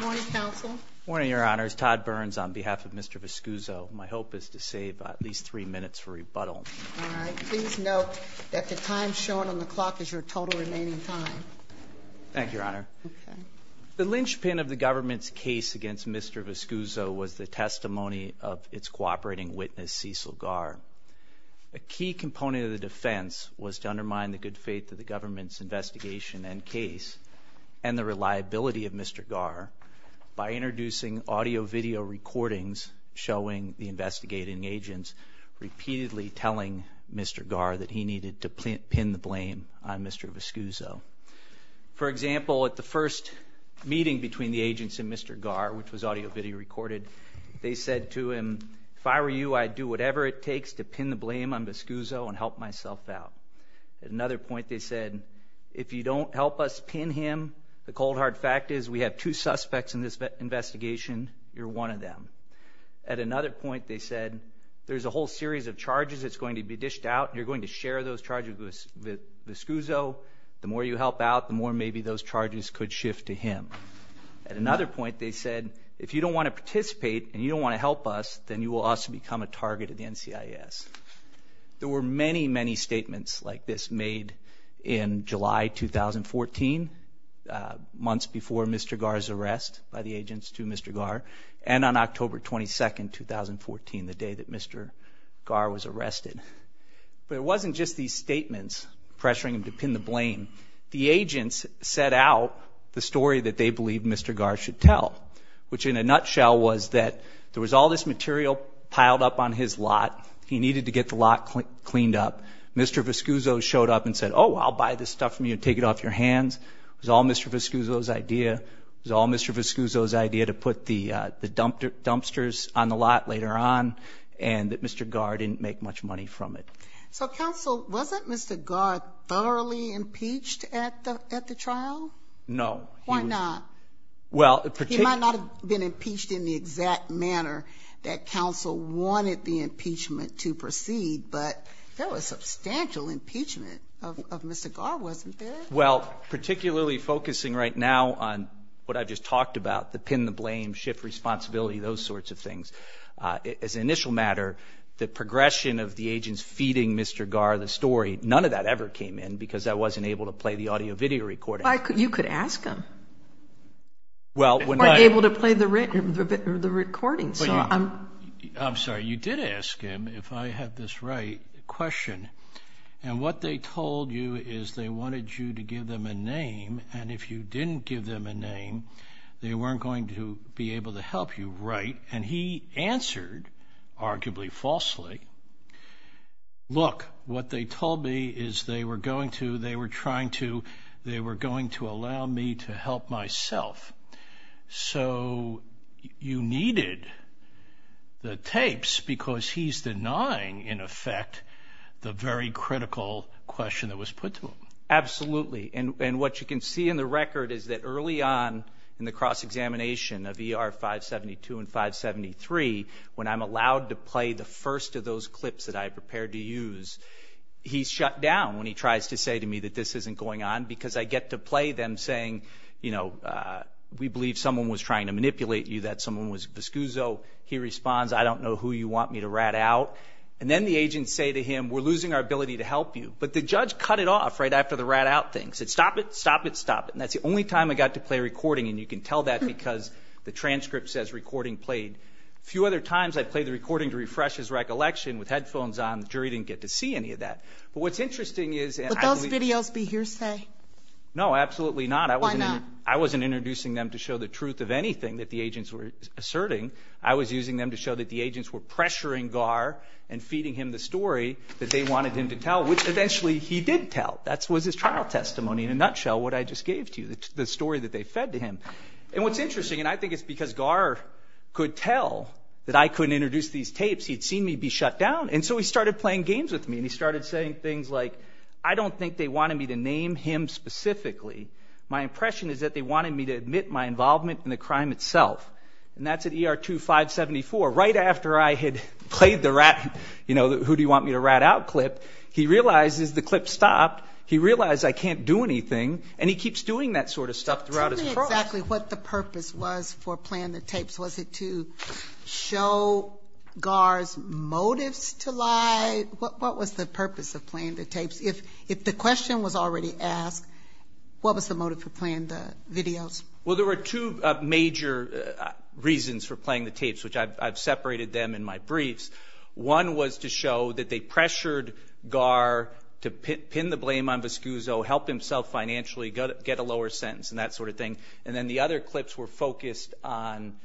Good morning, Your Honor. It's Todd Burns on behalf of Mr. Vescuso. My hope is to save at least three minutes for rebuttal. All right. Please note that the time shown on the clock is your total remaining time. Thank you, Your Honor. The linchpin of the government's case against Mr. Vescuso was the testimony of its cooperating witness, Cecil Garr. A key component of the defense was to undermine the good faith of the government's investigation and case and the reliability of Mr. Garr by introducing audio-video recordings showing the investigating agents repeatedly telling Mr. Garr that he needed to pin the blame on Mr. Vescuso. For example, at the first meeting between the agents and Mr. Garr, which was audio-video recorded, they said to him, if I were you, I'd do whatever it takes to pin the blame on Vescuso and help myself out. At another point, they said, if you don't help us pin him, the cold hard fact is we have two suspects in this investigation. You're one of them. At another point, they said, there's a whole series of charges that's going to be dished out. You're going to share those charges with Vescuso. The more you help out, the more maybe those charges could shift to him. At another point, they said, if you don't want to participate and you don't want to help us, then you will also become a target of the NCIS. There were many, many statements like this made in July 2014, months before Mr. Garr's arrest by the agents to Mr. Garr, and on October 22, 2014, the day that Mr. Garr was arrested. But it wasn't just these statements pressuring him to pin the blame. The agents set out the story that they believed Mr. Garr should tell, which in a nutshell was that there was all this material piled up on his lot. He needed to get the lot cleaned up. Mr. Vescuso showed up and said, oh, I'll buy this stuff from you and take it off your hands. It was all Mr. Vescuso's idea. It was all Mr. Vescuso's idea to put the dumpsters on the lot later on, and that Mr. Garr didn't make much money from it. So counsel, wasn't Mr. Garr thoroughly impeached at the trial? No. Why not? He might not have been impeached in the exact manner that counsel wanted the impeachment to proceed, but there was substantial impeachment of Mr. Garr, wasn't there? Well, particularly focusing right now on what I just talked about, the pin the blame, shift responsibility, those sorts of things. As an initial matter, the progression of the agents feeding Mr. Garr the story, none of that ever came in because I wasn't able to play the audio-video recording. You could ask him. Or able to play the recording. I'm sorry, you did ask him, if I have this right, a question, and what they told you is they wanted you to give them a name, and if you didn't give them a name, they weren't going to be able to help you, right? And he answered, arguably falsely, look, what they told me is they were going to, they were trying to, they were going to allow me to help myself. So you needed the tapes because he's denying, in effect, the very critical question that was put to him. Absolutely. And what you can see in the record is that early on in the cross-examination of ER 572 and 573, when I'm allowed to play the first of those clips that I prepared to use, he's shut down when he tries to say to me that this isn't going on because I get to play them saying, you know, we believe someone was trying to manipulate you, that someone was viscuso. He responds, I don't know who you want me to rat out. And then the agents say to him, we're losing our ability to help you. But the judge cut it off right after the rat out thing. He said, stop it, stop it, stop it. And that's the only time I got to play a recording, and you can tell that because the transcript says recording played. A few other times I played the recording to refresh his recollection with headphones on. The jury didn't get to see any of that. But what's interesting is that I believe- Would those videos be hearsay? No, absolutely not. Why not? I wasn't introducing them to show the truth of anything that the agents were asserting. I was using them to show that the agents were pressuring Gar and feeding him the story that they wanted him to tell, which eventually he did tell. That was his trial testimony in a nutshell, what I just gave to you, the story that they fed to him. And what's interesting, and I think it's because Gar could tell that I couldn't introduce these tapes, he'd seen me be shut down, and so he started playing games with me. And he started saying things like, I don't think they wanted me to name him specifically. My impression is that they wanted me to admit my involvement in the crime itself. And that's at ER 2574, right after I had played the rat- you know, who do you want me to rat out clip. He realizes the clip stopped, he realized I can't do anything, and he keeps doing that sort of stuff throughout his trial. Tell me exactly what the purpose was for playing the tapes. Was it to show Gar's motives to lie? What was the purpose of playing the tapes? If the question was already asked, what was the motive for playing the videos? Well, there were two major reasons for playing the tapes, which I've separated them in my briefs. One was to show that they pressured Gar to pin the blame on Viscuso, help himself financially, get a lower sentence, and that sort of thing. And then the other clips were focused on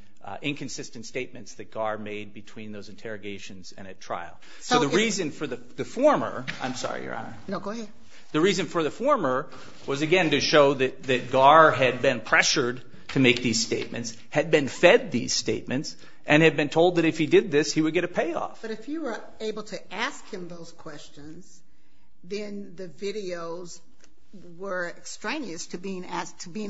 inconsistent statements that Gar made between those interrogations and at trial. So the reason for the former-I'm sorry, Your Honor. No, go ahead. The reason for the former was, again, to show that Gar had been pressured to make these statements, had been fed these statements, and had been told that if he did this, he would get a payoff. But if you were able to ask him those questions, then the videos were extraneous to being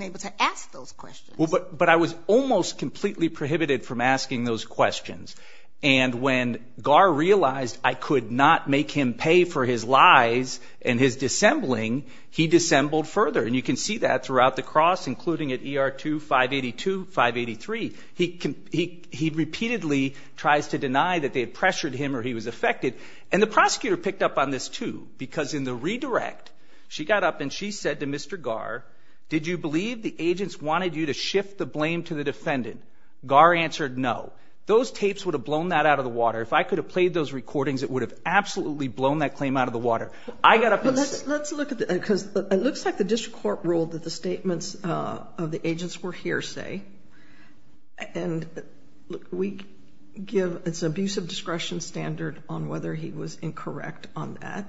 able to ask those questions. But I was almost completely prohibited from asking those questions. And when Gar realized I could not make him pay for his lies and his dissembling, he dissembled further. And you can see that throughout the cross, including at ER 2582, 583. He repeatedly tries to deny that they had pressured him or he was affected. And the prosecutor picked up on this, too, because in the redirect, she got up and she said to Mr. Gar, did you believe the agents wanted you to shift the blame to the defendant? Gar answered no. Those tapes would have blown that out of the water. If I could have played those recordings, it would have absolutely blown that claim out of the water. I got up and said. But let's look at it, because it looks like the district court ruled that the statements of the agents were hearsay. And we give an abusive discretion standard on whether he was incorrect on that.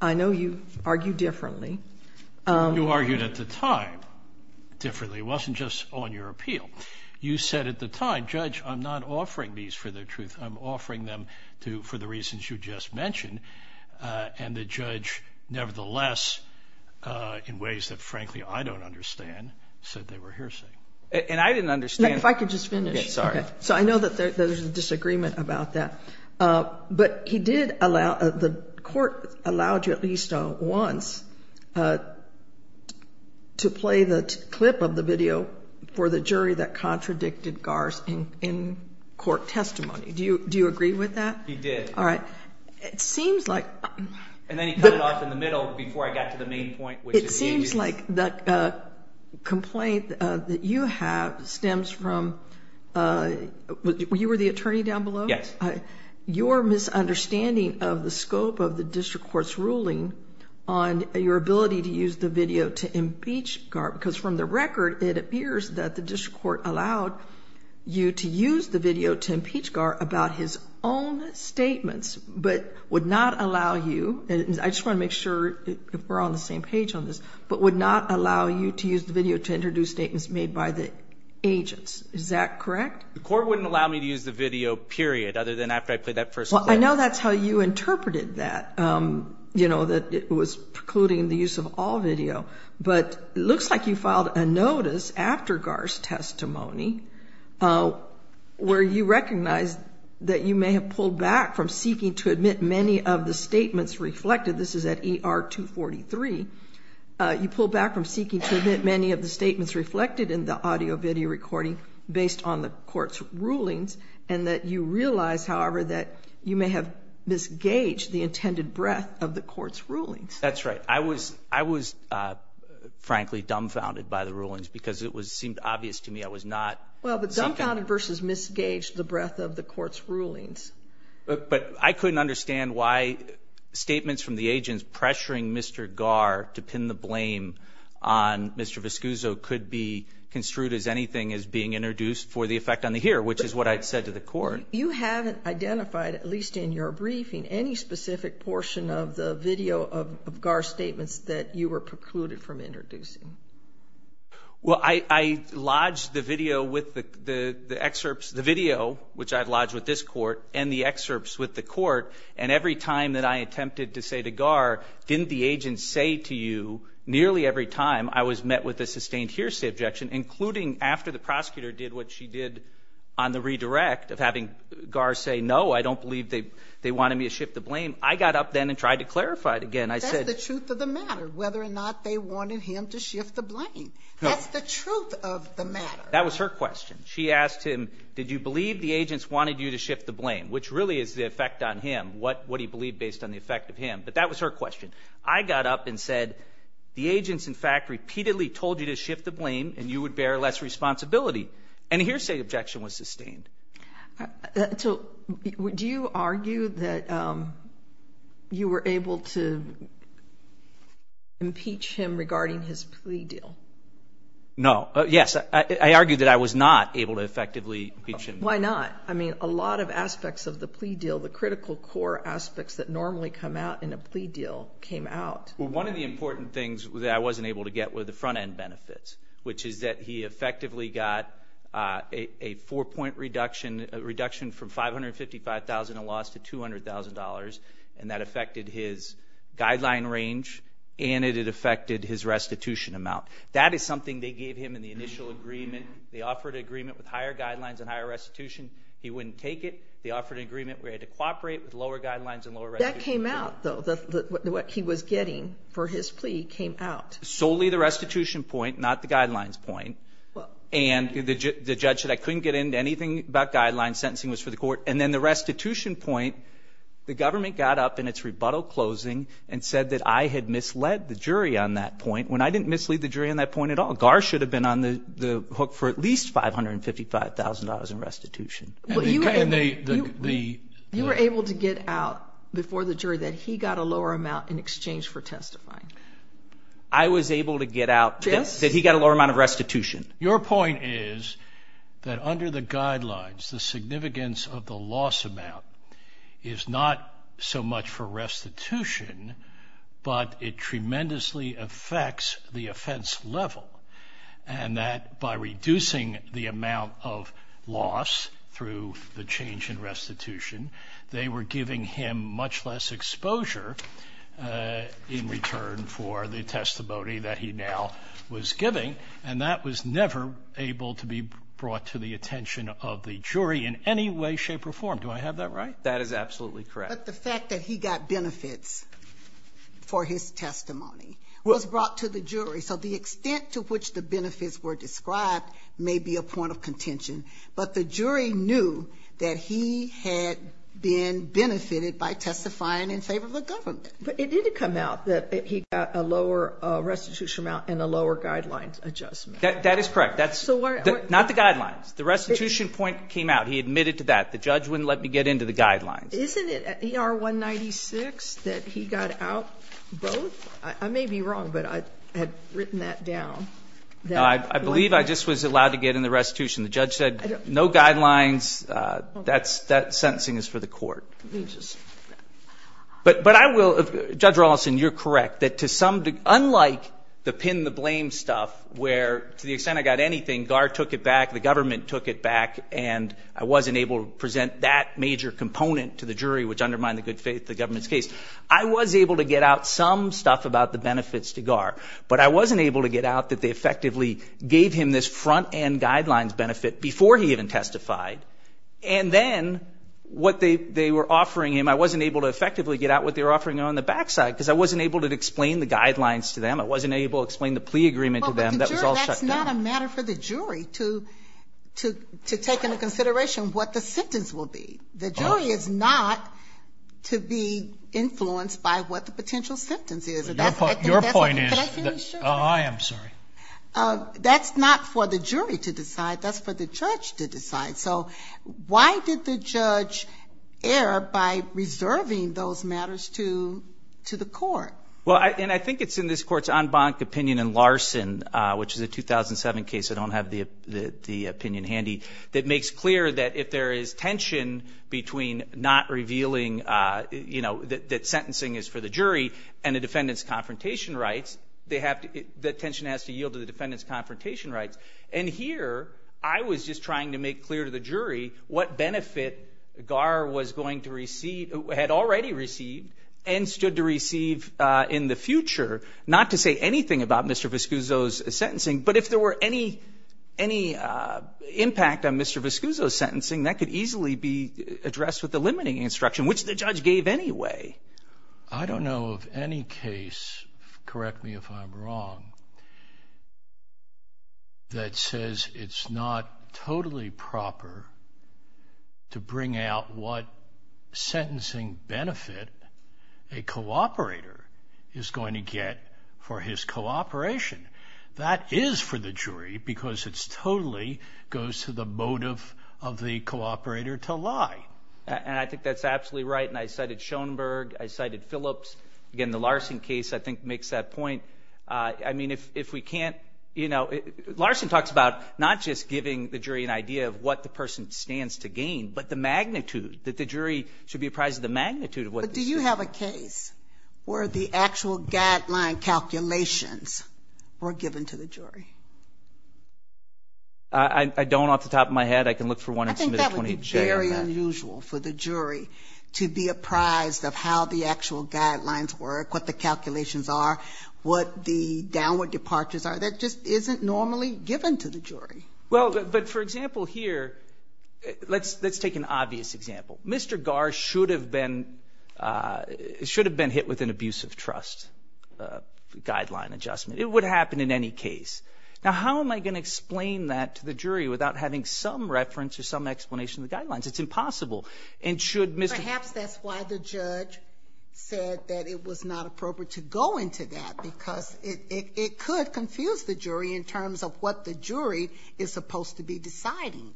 I know you argue differently. You argued at the time differently. It wasn't just on your appeal. You said at the time, Judge, I'm not offering these for their truth. I'm offering them for the reasons you just mentioned. And the judge, nevertheless, in ways that, frankly, I don't understand, said they were hearsay. And I didn't understand. If I could just finish. Sorry. So I know that there's a disagreement about that. But he did allow, the court allowed you at least once to play the clip of the video for the jury that contradicted Gar's in-court testimony. Do you agree with that? He did. All right. It seems like. And then he cut it off in the middle before I got to the main point. It seems like the complaint that you have stems from, you were the attorney down below? Yes. Your misunderstanding of the scope of the district court's ruling on your ability to use the video to impeach Gar, because from the record, it appears that the district court allowed you to use the video to impeach Gar about his own statements, but would not allow you, and I just want to make sure we're on the same page on this, but would not allow you to use the video to introduce statements made by the agents. Is that correct? The court wouldn't allow me to use the video, period, other than after I played that first clip. Well, I know that's how you interpreted that, that it was precluding the use of all video. But it looks like you filed a notice after Gar's testimony where you recognized that you may have pulled back from seeking to admit many of the statements reflected. This is at ER 243. You pulled back from seeking to admit many of the statements reflected in the audio-video recording based on the court's rulings, and that you realize, however, that you may have misgaged the intended breadth of the court's rulings. That's right. I was, frankly, dumbfounded by the rulings because it seemed obvious to me I was not seeking. Well, but dumbfounded versus misgaged the breadth of the court's rulings. But I couldn't understand why statements from the agents pressuring Mr. Gar to pin the blame on Mr. Viscuso could be construed as anything as being introduced for the effect on the hearer, which is what I said to the court. You haven't identified, at least in your briefing, any specific portion of the video of Gar's statements that you were precluded from introducing. Well, I lodged the video with the excerpts, the video, which I had lodged with this court, and the excerpts with the court. And every time that I attempted to say to Gar, didn't the agent say to you nearly every time I was met with a sustained hearsay objection, including after the prosecutor did what she did on the redirect of having Gar say, no, I don't believe they wanted me to shift the blame, I got up then and tried to clarify it again. That's the truth of the matter, whether or not they wanted him to shift the blame. That's the truth of the matter. That was her question. She asked him, did you believe the agents wanted you to shift the blame, which really is the effect on him, what he believed based on the effect of him. But that was her question. I got up and said, the agents, in fact, repeatedly told you to shift the blame and you would bear less responsibility. And a hearsay objection was sustained. So do you argue that you were able to impeach him regarding his plea deal? No. Yes, I argue that I was not able to effectively impeach him. Why not? I mean, a lot of aspects of the plea deal, the critical core aspects that normally come out in a plea deal came out. Well, one of the important things that I wasn't able to get were the front-end benefits, which is that he effectively got a four-point reduction, a reduction from $555,000 in loss to $200,000, and that affected his guideline range and it affected his restitution amount. That is something they gave him in the initial agreement. They offered an agreement with higher guidelines and higher restitution. He wouldn't take it. They offered an agreement where he had to cooperate with lower guidelines and lower restitution. That came out, though, what he was getting for his plea came out. Solely the restitution point, not the guidelines point. And the judge said I couldn't get into anything about guidelines. Sentencing was for the court. And then the restitution point, the government got up in its rebuttal closing and said that I had misled the jury on that point, when I didn't mislead the jury on that point at all. GAR should have been on the hook for at least $555,000 in restitution. You were able to get out before the jury that he got a lower amount in exchange for testifying? I was able to get out that he got a lower amount of restitution. Your point is that under the guidelines, the significance of the loss amount is not so much for restitution, but it tremendously affects the offense level. And that by reducing the amount of loss through the change in restitution, they were giving him much less exposure in return for the testimony that he now was giving. And that was never able to be brought to the attention of the jury in any way, shape, or form. Do I have that right? That is absolutely correct. But the fact that he got benefits for his testimony was brought to the jury. So the extent to which the benefits were described may be a point of contention. But the jury knew that he had been benefited by testifying in favor of the government. But it did come out that he got a lower restitution amount and a lower guidelines adjustment. That is correct. That's not the guidelines. The restitution point came out. He admitted to that. The judge wouldn't let me get into the guidelines. Isn't it in R196 that he got out both? I may be wrong, but I had written that down. No, I believe I just was allowed to get in the restitution. The judge said no guidelines. That sentencing is for the court. But I will, Judge Rawlinson, you're correct, that to some, unlike the pin the blame stuff, where to the extent I got anything, GAR took it back, the government took it back, and I wasn't able to present that major component to the jury, which undermined the good faith of the government's case. I was able to get out some stuff about the benefits to GAR. But I wasn't able to get out that they effectively gave him this front-end guidelines benefit before he even testified. And then what they were offering him, I wasn't able to effectively get out what they were offering him on the back side because I wasn't able to explain the guidelines to them. I wasn't able to explain the plea agreement to them. That was all shut down. That's not a matter for the jury to take into consideration what the sentence will be. The jury is not to be influenced by what the potential sentence is. Your point is that's not for the jury to decide. That's for the judge to decide. So why did the judge err by reserving those matters to the court? Well, and I think it's in this court's en banc opinion in Larson, which is a 2007 case, I don't have the opinion handy, that makes clear that if there is tension between not revealing that sentencing is for the jury and the defendant's confrontation rights, that tension has to yield to the defendant's confrontation rights. And here I was just trying to make clear to the jury what benefit GAR was going to receive, had already received and stood to receive in the future, not to say anything about Mr. Viscuso's sentencing, but if there were any impact on Mr. Viscuso's sentencing, that could easily be addressed with the limiting instruction, which the judge gave anyway. I don't know of any case, correct me if I'm wrong, that says it's not totally proper to bring out what sentencing benefit a cooperator is going to get for his cooperation. That is for the jury because it totally goes to the motive of the cooperator to lie. And I think that's absolutely right, and I cited Schoenberg, I cited Phillips. Again, the Larson case, I think, makes that point. I mean, if we can't, you know, Larson talks about not just giving the jury an idea of what the person stands to gain, but the magnitude, that the jury should be apprised of the magnitude of what this is. But do you have a case where the actual guideline calculations were given to the jury? I don't off the top of my head. I can look for one in Submitter 28J. I think that would be very unusual for the jury to be apprised of how the actual guidelines work, what the calculations are, what the downward departures are. That just isn't normally given to the jury. Well, but for example here, let's take an obvious example. Mr. Garr should have been hit with an abuse of trust guideline adjustment. It would happen in any case. Now, how am I going to explain that to the jury without having some reference or some explanation of the guidelines? It's impossible. Perhaps that's why the judge said that it was not appropriate to go into that because it could confuse the jury in terms of what the jury is supposed to be deciding.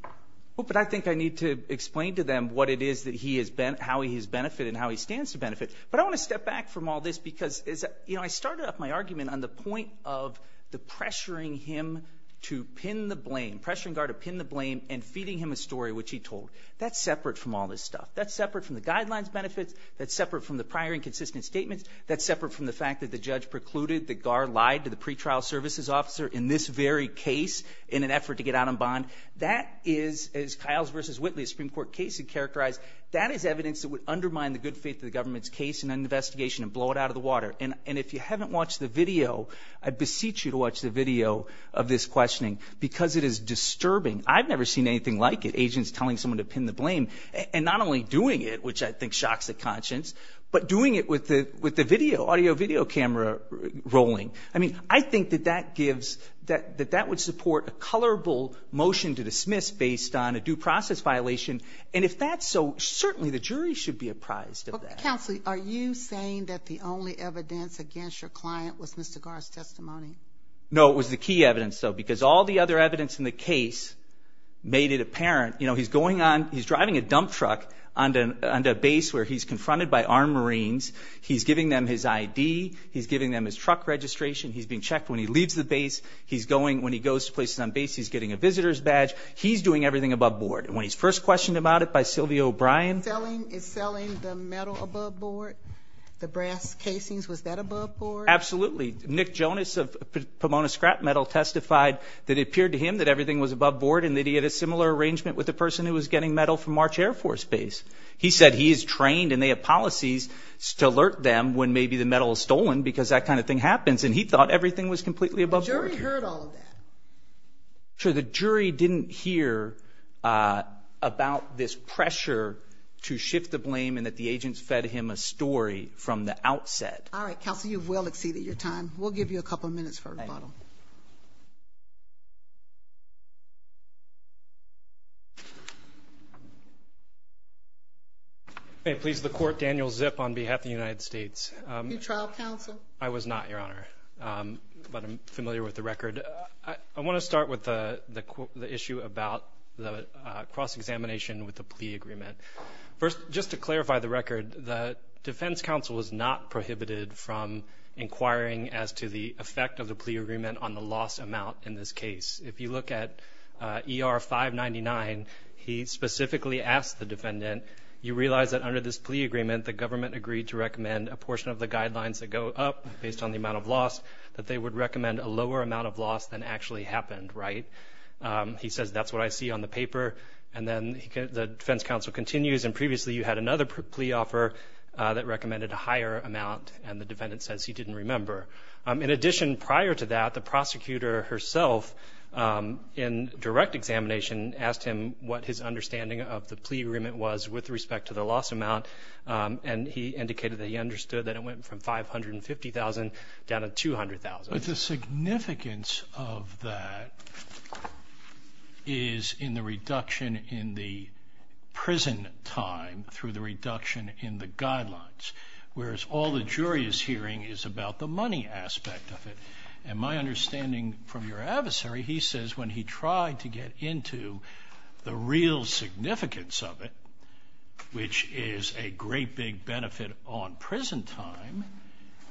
But I think I need to explain to them what it is that he has been, how he has benefited and how he stands to benefit. But I want to step back from all this because, you know, I started off my argument on the point of the pressuring him to pin the blame, pressuring Garr to pin the blame and feeding him a story which he told. That's separate from all this stuff. That's separate from the guidelines benefits. That's separate from the prior inconsistent statements. That's separate from the fact that the judge precluded that Garr lied to the pretrial services officer in this very case in an effort to get out on bond. That is, as Kyle's versus Whitley Supreme Court case had characterized, that is evidence that would undermine the good faith of the government's case in an investigation and blow it out of the water. And if you haven't watched the video, I beseech you to watch the video of this questioning because it is disturbing. I've never seen anything like it. Agents telling someone to pin the blame and not only doing it, which I think shocks the conscience, but doing it with the, with the video audio video camera rolling. I mean, I think that that gives that, that that would support a colorful motion to dismiss based on a due process violation. And if that's so certainly the jury should be apprised of that. Are you saying that the only evidence against your client was Mr. Gar's testimony? No, it was the key evidence though, because all the other evidence in the case made it apparent, you know, he's going on, he's driving a dump truck under, under base where he's confronted by armed Marines. He's giving them his ID. He's giving them his truck registration. He's being checked when he leaves the base. He's going, when he goes to places on base, he's getting a visitor's badge. He's doing everything above board. And when he's first questioned about it by Sylvia O'Brien. It's selling the metal above board, the brass casings. Was that above board? Absolutely. Nick Jonas of Pomona scrap metal testified that it appeared to him that everything was above board and that he had a similar arrangement with the person who was getting metal from March air force base. He said he is trained and they have policies to alert them when maybe the metal is stolen, because that kind of thing happens. And he thought everything was completely above board. The jury heard all of that? Sure. The jury didn't hear about this pressure to shift the blame and that the agents fed him a story from the outset. All right. Counsel, you've well exceeded your time. We'll give you a couple of minutes for a rebuttal. Thank you. May it please the court, Daniel Zip on behalf of the United States. You're trial counsel? I was not, Your Honor. But I'm familiar with the record. I want to start with the issue about the cross-examination with the plea agreement. First, just to clarify the record, the defense counsel was not prohibited from inquiring as to the effect of the plea agreement on the loss amount in this case. If you look at ER 599, he specifically asked the defendant, you realize that under this plea agreement, the government agreed to recommend a portion of the guidelines that go up based on the amount of loss, that they would recommend a lower amount of loss than actually happened, right? He says that's what I see on the paper. And then the defense counsel continues, and previously you had another plea offer that recommended a higher amount, and the defendant says he didn't remember. In addition, prior to that, the prosecutor herself, in direct examination, asked him what his understanding of the plea agreement was with respect to the loss amount, and he indicated that he understood that it went from $550,000 down to $200,000. But the significance of that is in the reduction in the prison time through the reduction in the guidelines, whereas all the jury is hearing is about the money aspect of it. And my understanding from your adversary, he says when he tried to get into the real significance of it, which is a great big benefit on prison time,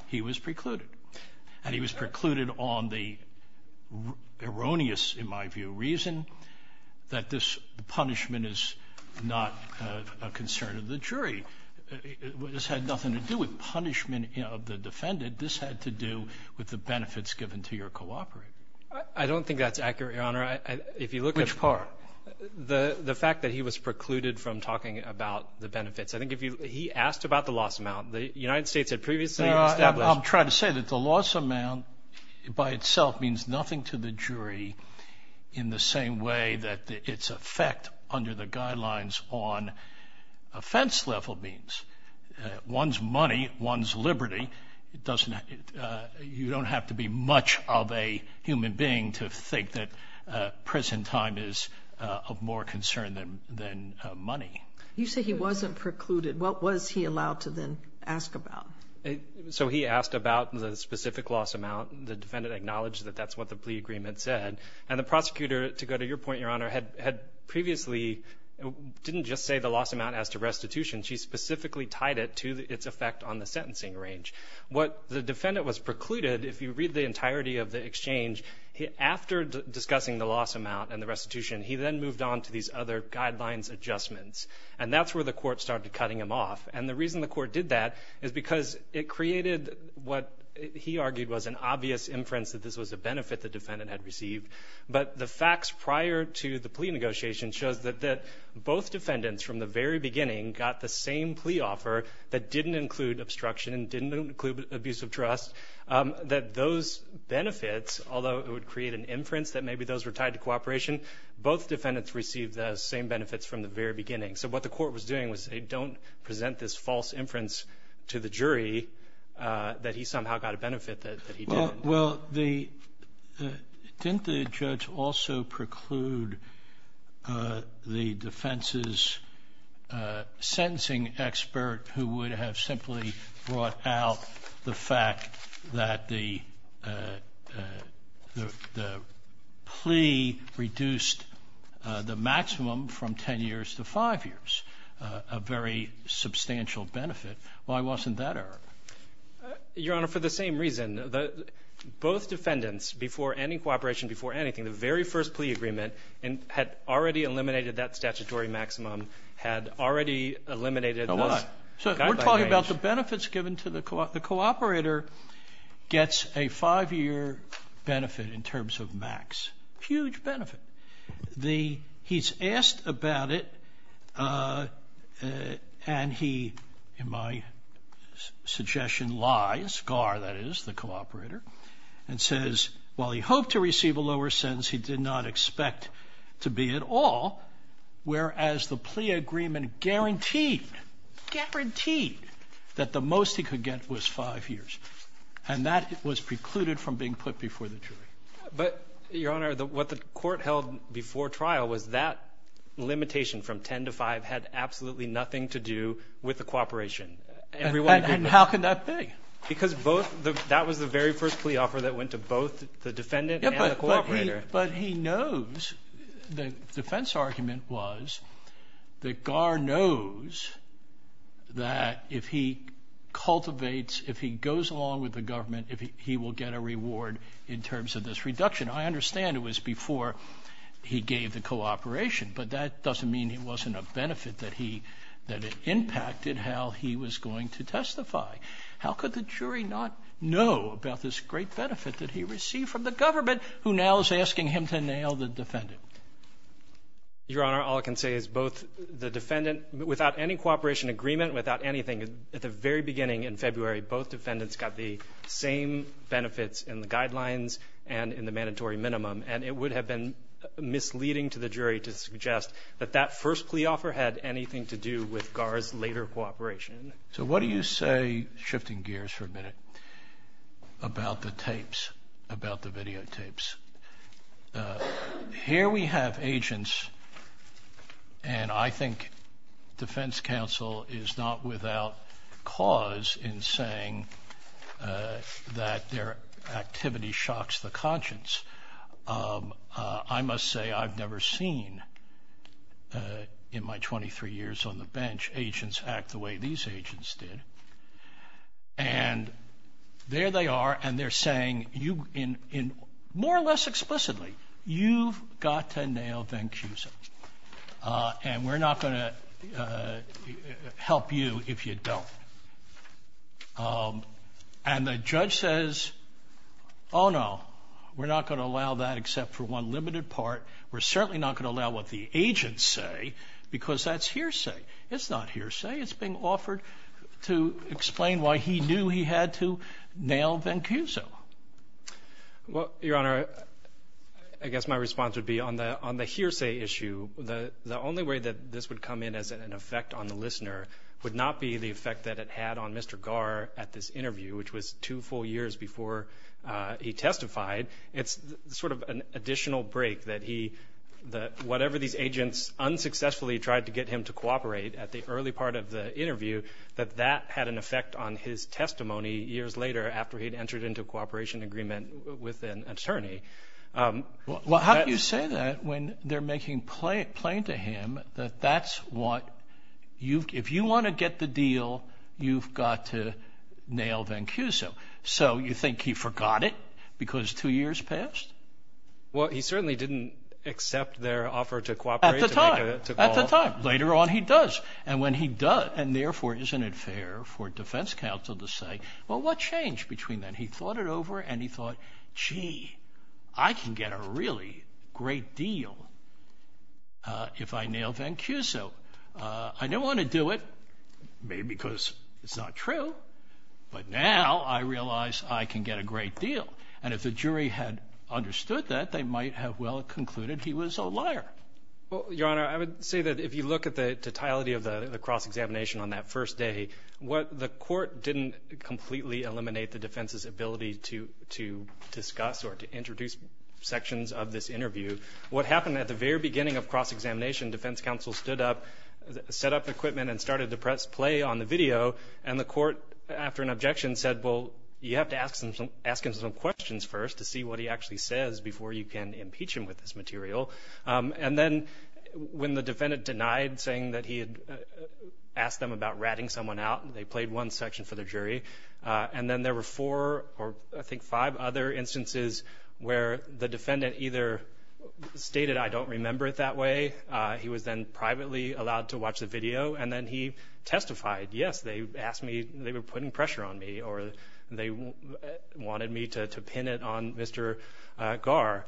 he was precluded. And he was precluded on the erroneous, in my view, reason that this punishment is not a concern of the jury. This had nothing to do with punishment of the defendant. This had to do with the benefits given to your cooperator. I don't think that's accurate, Your Honor. Which part? The fact that he was precluded from talking about the benefits. I think if he asked about the loss amount, the United States had previously established. I'm trying to say that the loss amount by itself means nothing to the jury in the same way that its effect under the guidelines on offense level means. One's money, one's liberty, you don't have to be much of a human being to think that prison time is of more concern than money. You say he wasn't precluded. What was he allowed to then ask about? So he asked about the specific loss amount. The defendant acknowledged that that's what the plea agreement said. And the prosecutor, to go to your point, Your Honor, had previously didn't just say the loss amount as to restitution. She specifically tied it to its effect on the sentencing range. What the defendant was precluded, if you read the entirety of the exchange, after discussing the loss amount and the restitution, he then moved on to these other guidelines adjustments. And that's where the court started cutting him off. And the reason the court did that is because it created what he argued was an obvious inference that this was a benefit the defendant had received. But the facts prior to the plea negotiation shows that both defendants, from the very beginning, got the same plea offer that didn't include obstruction and didn't include abuse of trust, that those benefits, although it would create an inference that maybe those were tied to cooperation, both defendants received the same benefits from the very beginning. So what the court was doing was say, don't present this false inference to the jury that he somehow got a benefit that he didn't. Well, didn't the judge also preclude the defense's sentencing expert, who would have simply brought out the fact that the plea reduced the maximum from 10 years to 5 years, a very substantial benefit. Why wasn't that errored? Your Honor, for the same reason. Both defendants, before any cooperation, before anything, the very first plea agreement had already eliminated that statutory maximum, had already eliminated those guidelines. So we're talking about the benefits given to the co-operator gets a 5-year benefit in terms of max. Huge benefit. He's asked about it, and he, in my suggestion, lies, Gar, that is, the co-operator, and says, while he hoped to receive a lower sentence, he did not expect to be at all, whereas the plea agreement guaranteed, guaranteed, that the most he could get was 5 years. But, Your Honor, what the court held before trial was that limitation from 10 to 5 had absolutely nothing to do with the cooperation. And how can that be? Because that was the very first plea offer that went to both the defendant and the co-operator. But he knows, the defense argument was that Gar knows that if he cultivates, if he goes along with the government, he will get a reward in terms of this reduction. I understand it was before he gave the cooperation, but that doesn't mean it wasn't a benefit that he, that it impacted how he was going to testify. How could the jury not know about this great benefit that he received from the government, who now is asking him to nail the defendant? Your Honor, all I can say is both the defendant, without any cooperation agreement, without anything, at the very beginning in February both defendants got the same benefits in the guidelines and in the mandatory minimum. And it would have been misleading to the jury to suggest that that first plea offer had anything to do with Gar's later cooperation. So what do you say, shifting gears for a minute, about the tapes, about the videotapes? Here we have agents, and I think defense counsel is not without cause in saying that their activity shocks the conscience. I must say I've never seen in my 23 years on the bench agents act the way these agents did. And there they are, and they're saying, more or less explicitly, you've got to nail Van Cusen, and we're not going to help you if you don't. And the judge says, oh, no, we're not going to allow that except for one limited part. We're certainly not going to allow what the agents say, because that's hearsay. It's not hearsay. It's being offered to explain why he knew he had to nail Van Cusen. Well, Your Honor, I guess my response would be on the hearsay issue, the only way that this would come in as an effect on the listener would not be the effect that it had on Mr. Gar at this interview, which was two full years before he testified. It's sort of an additional break that whatever these agents unsuccessfully tried to get him to cooperate at the early part of the interview, that that had an effect on his testimony years later after he'd entered into cooperation agreement with an attorney. Well, how do you say that when they're making plain to him that that's what you've, if you want to get the deal, you've got to nail Van Cusen. So you think he forgot it because two years passed? Well, he certainly didn't accept their offer to cooperate. At the time. Later on, he does. And when he does, and therefore, isn't it fair for defense counsel to say, well, what changed between then? He thought it over and he thought, gee, I can get a really great deal if I nail Van Cusen. I didn't want to do it maybe because it's not true. But now I realize I can get a great deal. And if the jury had understood that, they might have well concluded he was a liar. Well, Your Honor, I would say that if you look at the totality of the cross-examination on that first day, the court didn't completely eliminate the defense's ability to discuss or to introduce sections of this interview. What happened at the very beginning of cross-examination, defense counsel stood up, set up equipment, and started to press play on the video. And the court, after an objection, said, well, you have to ask him some questions first to see what he actually says before you can impeach him with this material. And then when the defendant denied saying that he had asked them about ratting someone out, they played one section for the jury. And then there were four or I think five other instances where the defendant either stated, I don't remember it that way. He was then privately allowed to watch the video. And then he testified, yes, they asked me, they were putting pressure on me, or they wanted me to pin it on Mr. Gar.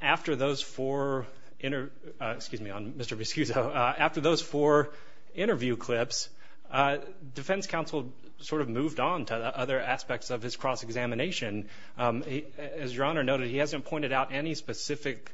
After those four interview clips, defense counsel sort of moved on to other aspects of his cross-examination. As Your Honor noted, he hasn't pointed out any specific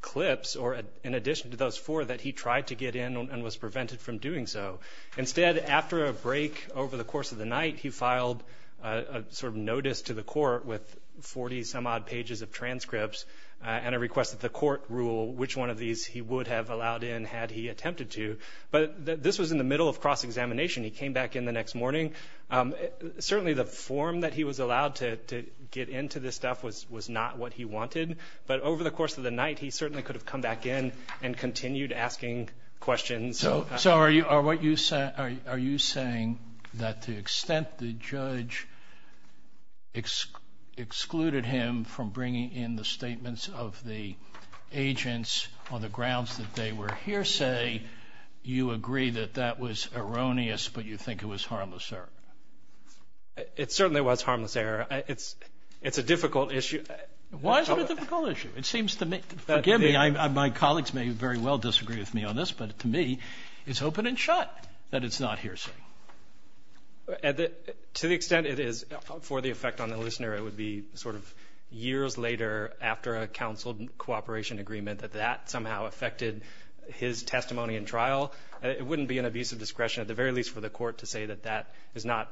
clips or, in addition to those four, that he tried to get in and was prevented from doing so. Instead, after a break over the course of the night, he filed a sort of notice to the court with 40-some-odd pages of transcripts and a request that the court rule which one of these he would have allowed in had he attempted to. But this was in the middle of cross-examination. He came back in the next morning. Certainly the form that he was allowed to get into this stuff was not what he wanted. But over the course of the night, he certainly could have come back in and continued asking questions. So are you saying that the extent the judge excluded him from bringing in the statements of the agents on the grounds that they were hearsay, you agree that that was erroneous, but you think it was harmless error? It certainly was harmless error. It's a difficult issue. Why is it a difficult issue? It seems to me, forgive me, my colleagues may very well disagree with me on this, but to me it's open and shut that it's not hearsay. To the extent it is for the effect on the listener, it would be sort of years later after a counseled cooperation agreement that that somehow affected his testimony in trial. It wouldn't be an abuse of discretion, at the very least for the court, to say that that is not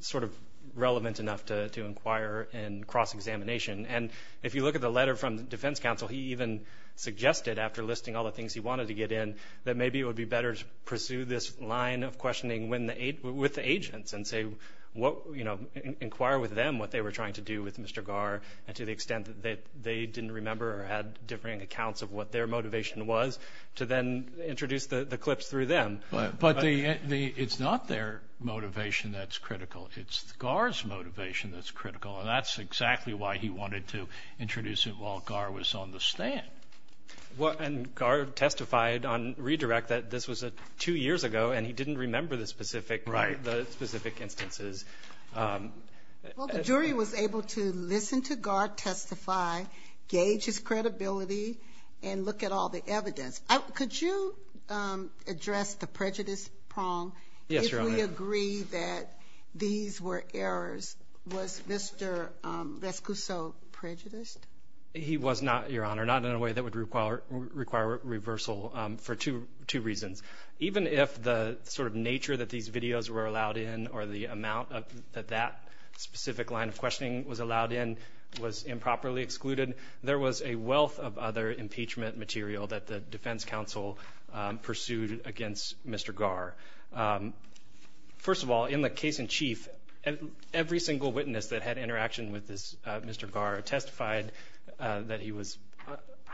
sort of relevant enough to inquire in cross-examination. And if you look at the letter from the defense counsel, he even suggested after listing all the things he wanted to get in, that maybe it would be better to pursue this line of questioning with the agents and inquire with them what they were trying to do with Mr. Garr and to the extent that they didn't remember or had differing accounts of what their motivation was, to then introduce the clips through them. But it's not their motivation that's critical. It's Garr's motivation that's critical, and that's exactly why he wanted to introduce it while Garr was on the stand. And Garr testified on redirect that this was two years ago and he didn't remember the specific instances. Well, the jury was able to listen to Garr testify, gauge his credibility, and look at all the evidence. Could you address the prejudice prong? Yes, Your Honor. Did we agree that these were errors? Was Mr. Rescuso prejudiced? He was not, Your Honor, not in a way that would require reversal for two reasons. Even if the sort of nature that these videos were allowed in or the amount that that specific line of questioning was allowed in was improperly excluded, there was a wealth of other impeachment material that the defense counsel pursued against Mr. Garr. First of all, in the case in chief, every single witness that had interaction with Mr. Garr testified that he was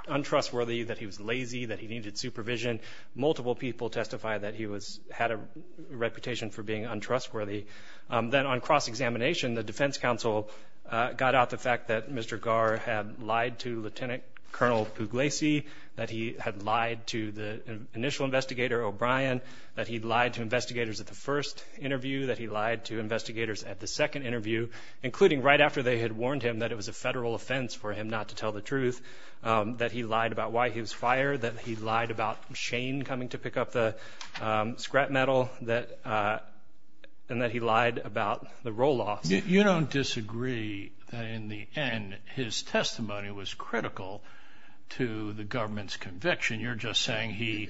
untrustworthy, that he was lazy, that he needed supervision. Multiple people testified that he had a reputation for being untrustworthy. Then on cross-examination, the defense counsel got out the fact that Mr. Garr had lied to Lieutenant Colonel Pugliese, that he had lied to the initial investigator, O'Brien, that he lied to investigators at the first interview, that he lied to investigators at the second interview, including right after they had warned him that it was a federal offense for him not to tell the truth, that he lied about why he was fired, that he lied about Shane coming to pick up the scrap metal, and that he lied about the roll-offs. You don't disagree that in the end his testimony was critical to the government's conviction. You're just saying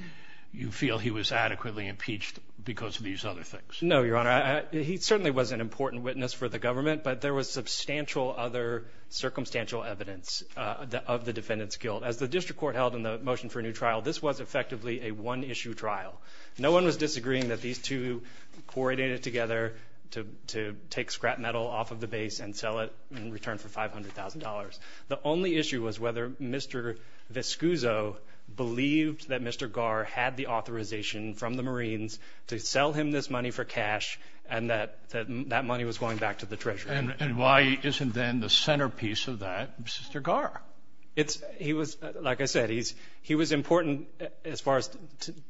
you feel he was adequately impeached because of these other things. No, Your Honor. He certainly was an important witness for the government, but there was substantial other circumstantial evidence of the defendant's guilt. As the district court held in the motion for a new trial, this was effectively a one-issue trial. No one was disagreeing that these two coordinated together to take scrap metal off of the base and sell it in return for $500,000. The only issue was whether Mr. Viscuso believed that Mr. Garr had the authorization from the Marines to sell him this money for cash and that that money was going back to the treasury. And why isn't then the centerpiece of that Mr. Garr? He was, like I said, he was important as far as—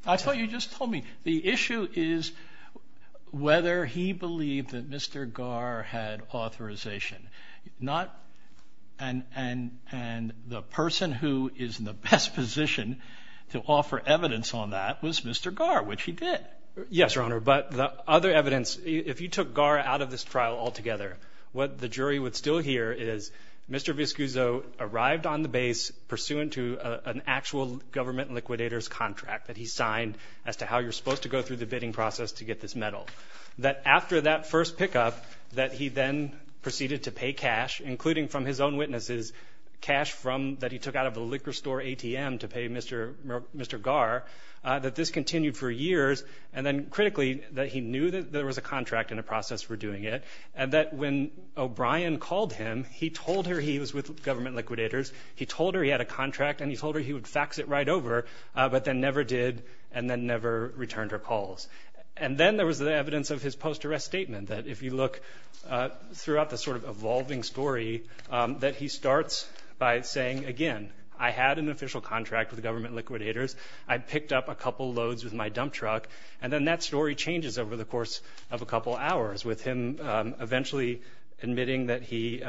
I thought you just told me the issue is whether he believed that Mr. Garr had authorization. And the person who is in the best position to offer evidence on that was Mr. Garr, which he did. Yes, Your Honor, but the other evidence, if you took Garr out of this trial altogether, what the jury would still hear is Mr. Viscuso arrived on the base pursuant to an actual government liquidator's contract that he signed as to how you're supposed to go through the bidding process to get this metal. That after that first pickup, that he then proceeded to pay cash, including from his own witnesses, cash that he took out of a liquor store ATM to pay Mr. Garr, that this continued for years, and then critically, that he knew that there was a contract in the process for doing it, and that when O'Brien called him, he told her he was with government liquidators. He told her he had a contract, and he told her he would fax it right over, but then never did, and then never returned her calls. And then there was the evidence of his post-arrest statement, that if you look throughout the sort of evolving story, that he starts by saying, again, I had an official contract with government liquidators. I picked up a couple loads with my dump truck. And then that story changes over the course of a couple hours, with him eventually admitting that he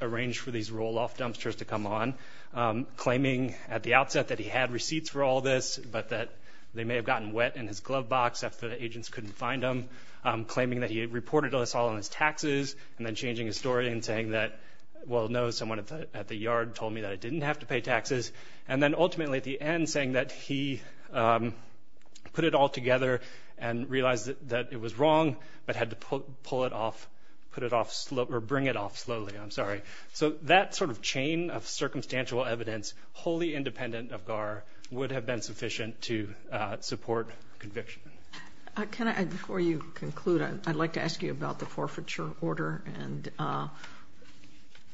arranged for these roll-off dumpsters to come on, claiming at the outset that he had receipts for all this, but that they may have gotten wet in his glove box after the agents couldn't find them, claiming that he had reported us all on his taxes, and then changing his story and saying that, well, no, someone at the yard told me that I didn't have to pay taxes, and then ultimately at the end saying that he put it all together and realized that it was wrong, but had to pull it off or bring it off slowly. I'm sorry. So that sort of chain of circumstantial evidence, wholly independent of GAR, would have been sufficient to support conviction. Before you conclude, I'd like to ask you about the forfeiture order and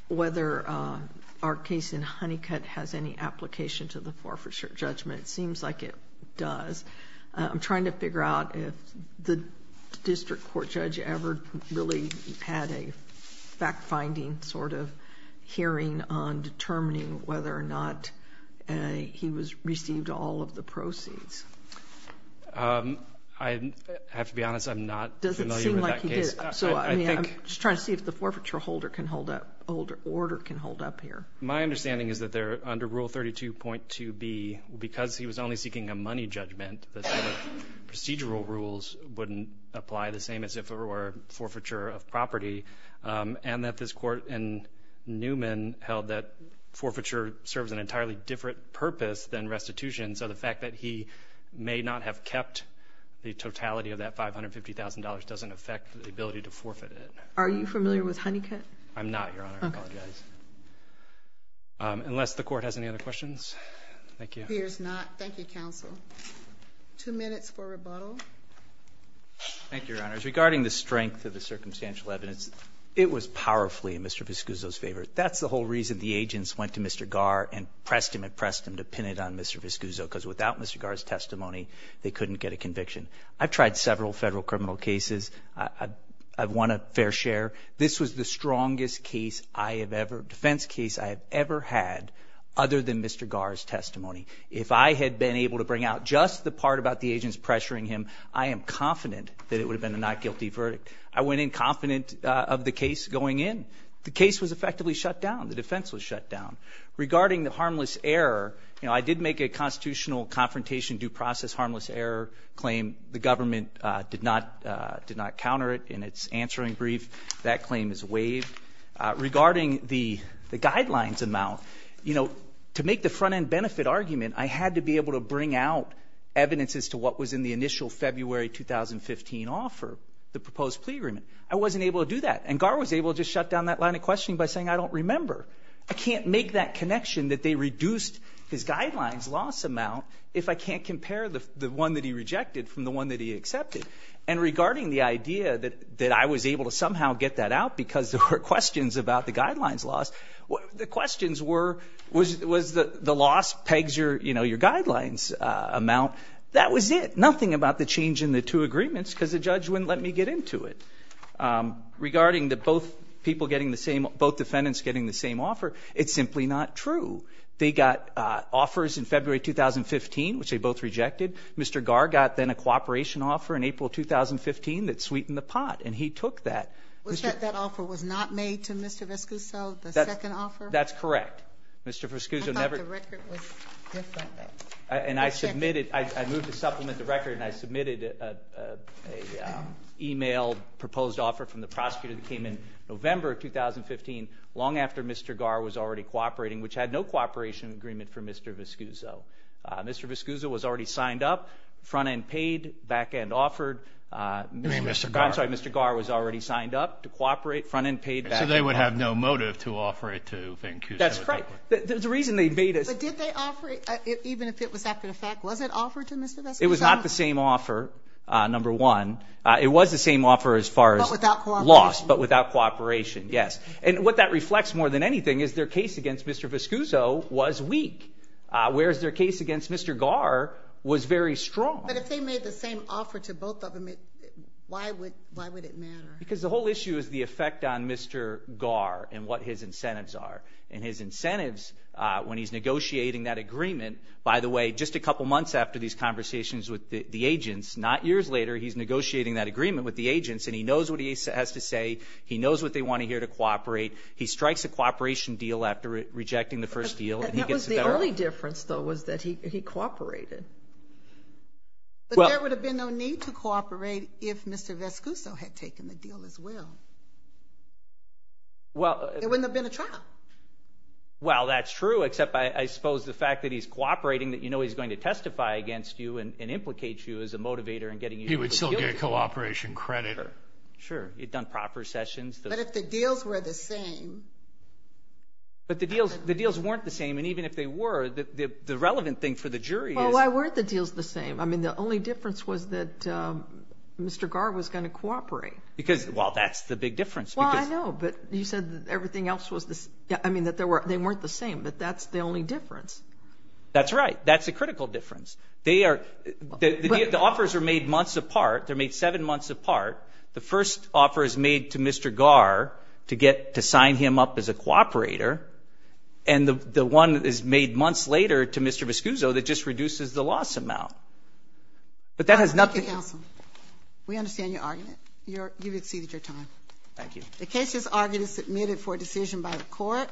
whether our case in Honeycutt has any application to the forfeiture judgment. It seems like it does. I'm trying to figure out if the district court judge ever really had a fact-finding sort of hearing on determining whether or not he received all of the proceeds. I have to be honest. I'm not familiar with that case. Does it seem like he did? I'm just trying to see if the forfeiture order can hold up here. My understanding is that under Rule 32.2b, because he was only seeking a money judgment, the same procedural rules wouldn't apply, the same as if it were forfeiture of property, and that this court in Newman held that forfeiture serves an entirely different purpose than restitution, so the fact that he may not have kept the totality of that $550,000 doesn't affect the ability to forfeit it. Are you familiar with Honeycutt? I'm not, Your Honor. I apologize. Unless the court has any other questions. Thank you. Here's not. Thank you, counsel. Two minutes for rebuttal. Thank you, Your Honors. Regarding the strength of the circumstantial evidence, it was powerfully in Mr. Viscuso's favor. That's the whole reason the agents went to Mr. Garr and pressed him and pressed him to pin it on Mr. Viscuso, because without Mr. Garr's testimony, they couldn't get a conviction. I've tried several federal criminal cases. I've won a fair share. This was the strongest defense case I have ever had other than Mr. Garr's testimony. If I had been able to bring out just the part about the agents pressuring him, I am confident that it would have been a not guilty verdict. I went in confident of the case going in. The case was effectively shut down. The defense was shut down. Regarding the harmless error, you know, I did make a constitutional confrontation due process harmless error claim. The government did not counter it in its answering brief. That claim is waived. Regarding the guidelines amount, you know, to make the front-end benefit argument, I had to be able to bring out evidence as to what was in the initial February 2015 offer, the proposed plea agreement. I wasn't able to do that. And Garr was able to just shut down that line of questioning by saying I don't remember. I can't make that connection that they reduced his guidelines loss amount if I can't compare the one that he rejected from the one that he accepted. And regarding the idea that I was able to somehow get that out because there were questions about the guidelines loss, the questions were was the loss pegs your, you know, your guidelines amount. That was it. Nothing about the change in the two agreements because the judge wouldn't let me get into it. Regarding the both people getting the same, both defendants getting the same offer, it's simply not true. They got offers in February 2015, which they both rejected. Mr. Garr got then a cooperation offer in April 2015 that sweetened the pot, and he took that. Was that offer was not made to Mr. Viscuzzo, the second offer? That's correct. I thought the record was different. And I submitted, I moved to supplement the record, and I submitted an e-mail proposed offer from the prosecutor that came in November 2015, long after Mr. Garr was already cooperating, which had no cooperation agreement for Mr. Viscuzzo. Mr. Viscuzzo was already signed up, front-end paid, back-end offered. You mean Mr. Garr? I'm sorry. Mr. Garr was already signed up to cooperate, front-end paid, back-end offered. So they would have no motive to offer it to Van Cusum. That's correct. The reason they made it. But did they offer it, even if it was after the fact? Was it offered to Mr. Viscuzzo? It was not the same offer, number one. It was the same offer as far as loss, but without cooperation, yes. And what that reflects more than anything is their case against Mr. Viscuzzo was weak. Whereas their case against Mr. Garr was very strong. But if they made the same offer to both of them, why would it matter? Because the whole issue is the effect on Mr. Garr and what his incentives are. And his incentives, when he's negotiating that agreement, by the way, just a couple months after these conversations with the agents, not years later, he's negotiating that agreement with the agents, and he knows what he has to say. He knows what they want to hear to cooperate. He strikes a cooperation deal after rejecting the first deal. That was the only difference, though, was that he cooperated. But there would have been no need to cooperate if Mr. Viscuzzo had taken the deal as well. There wouldn't have been a trial. Well, that's true, except I suppose the fact that he's cooperating, that you know he's going to testify against you and implicate you as a motivator in getting you to the deal. He would still get cooperation credit. Sure, he'd done proper sessions. But if the deals were the same. But the deals weren't the same, and even if they were, the relevant thing for the jury is. Well, why weren't the deals the same? I mean, the only difference was that Mr. Garr was going to cooperate. Because, well, that's the big difference. Well, I know, but you said that everything else was the same. I mean, that they weren't the same, but that's the only difference. That's right. That's the critical difference. The offers are made months apart. They're made seven months apart. The first offer is made to Mr. Garr to get to sign him up as a cooperator, and the one that is made months later to Mr. Viscuzzo that just reduces the loss amount. But that has nothing. Counsel, we understand your argument. You've exceeded your time. Thank you. The case is argued and submitted for decision by the court.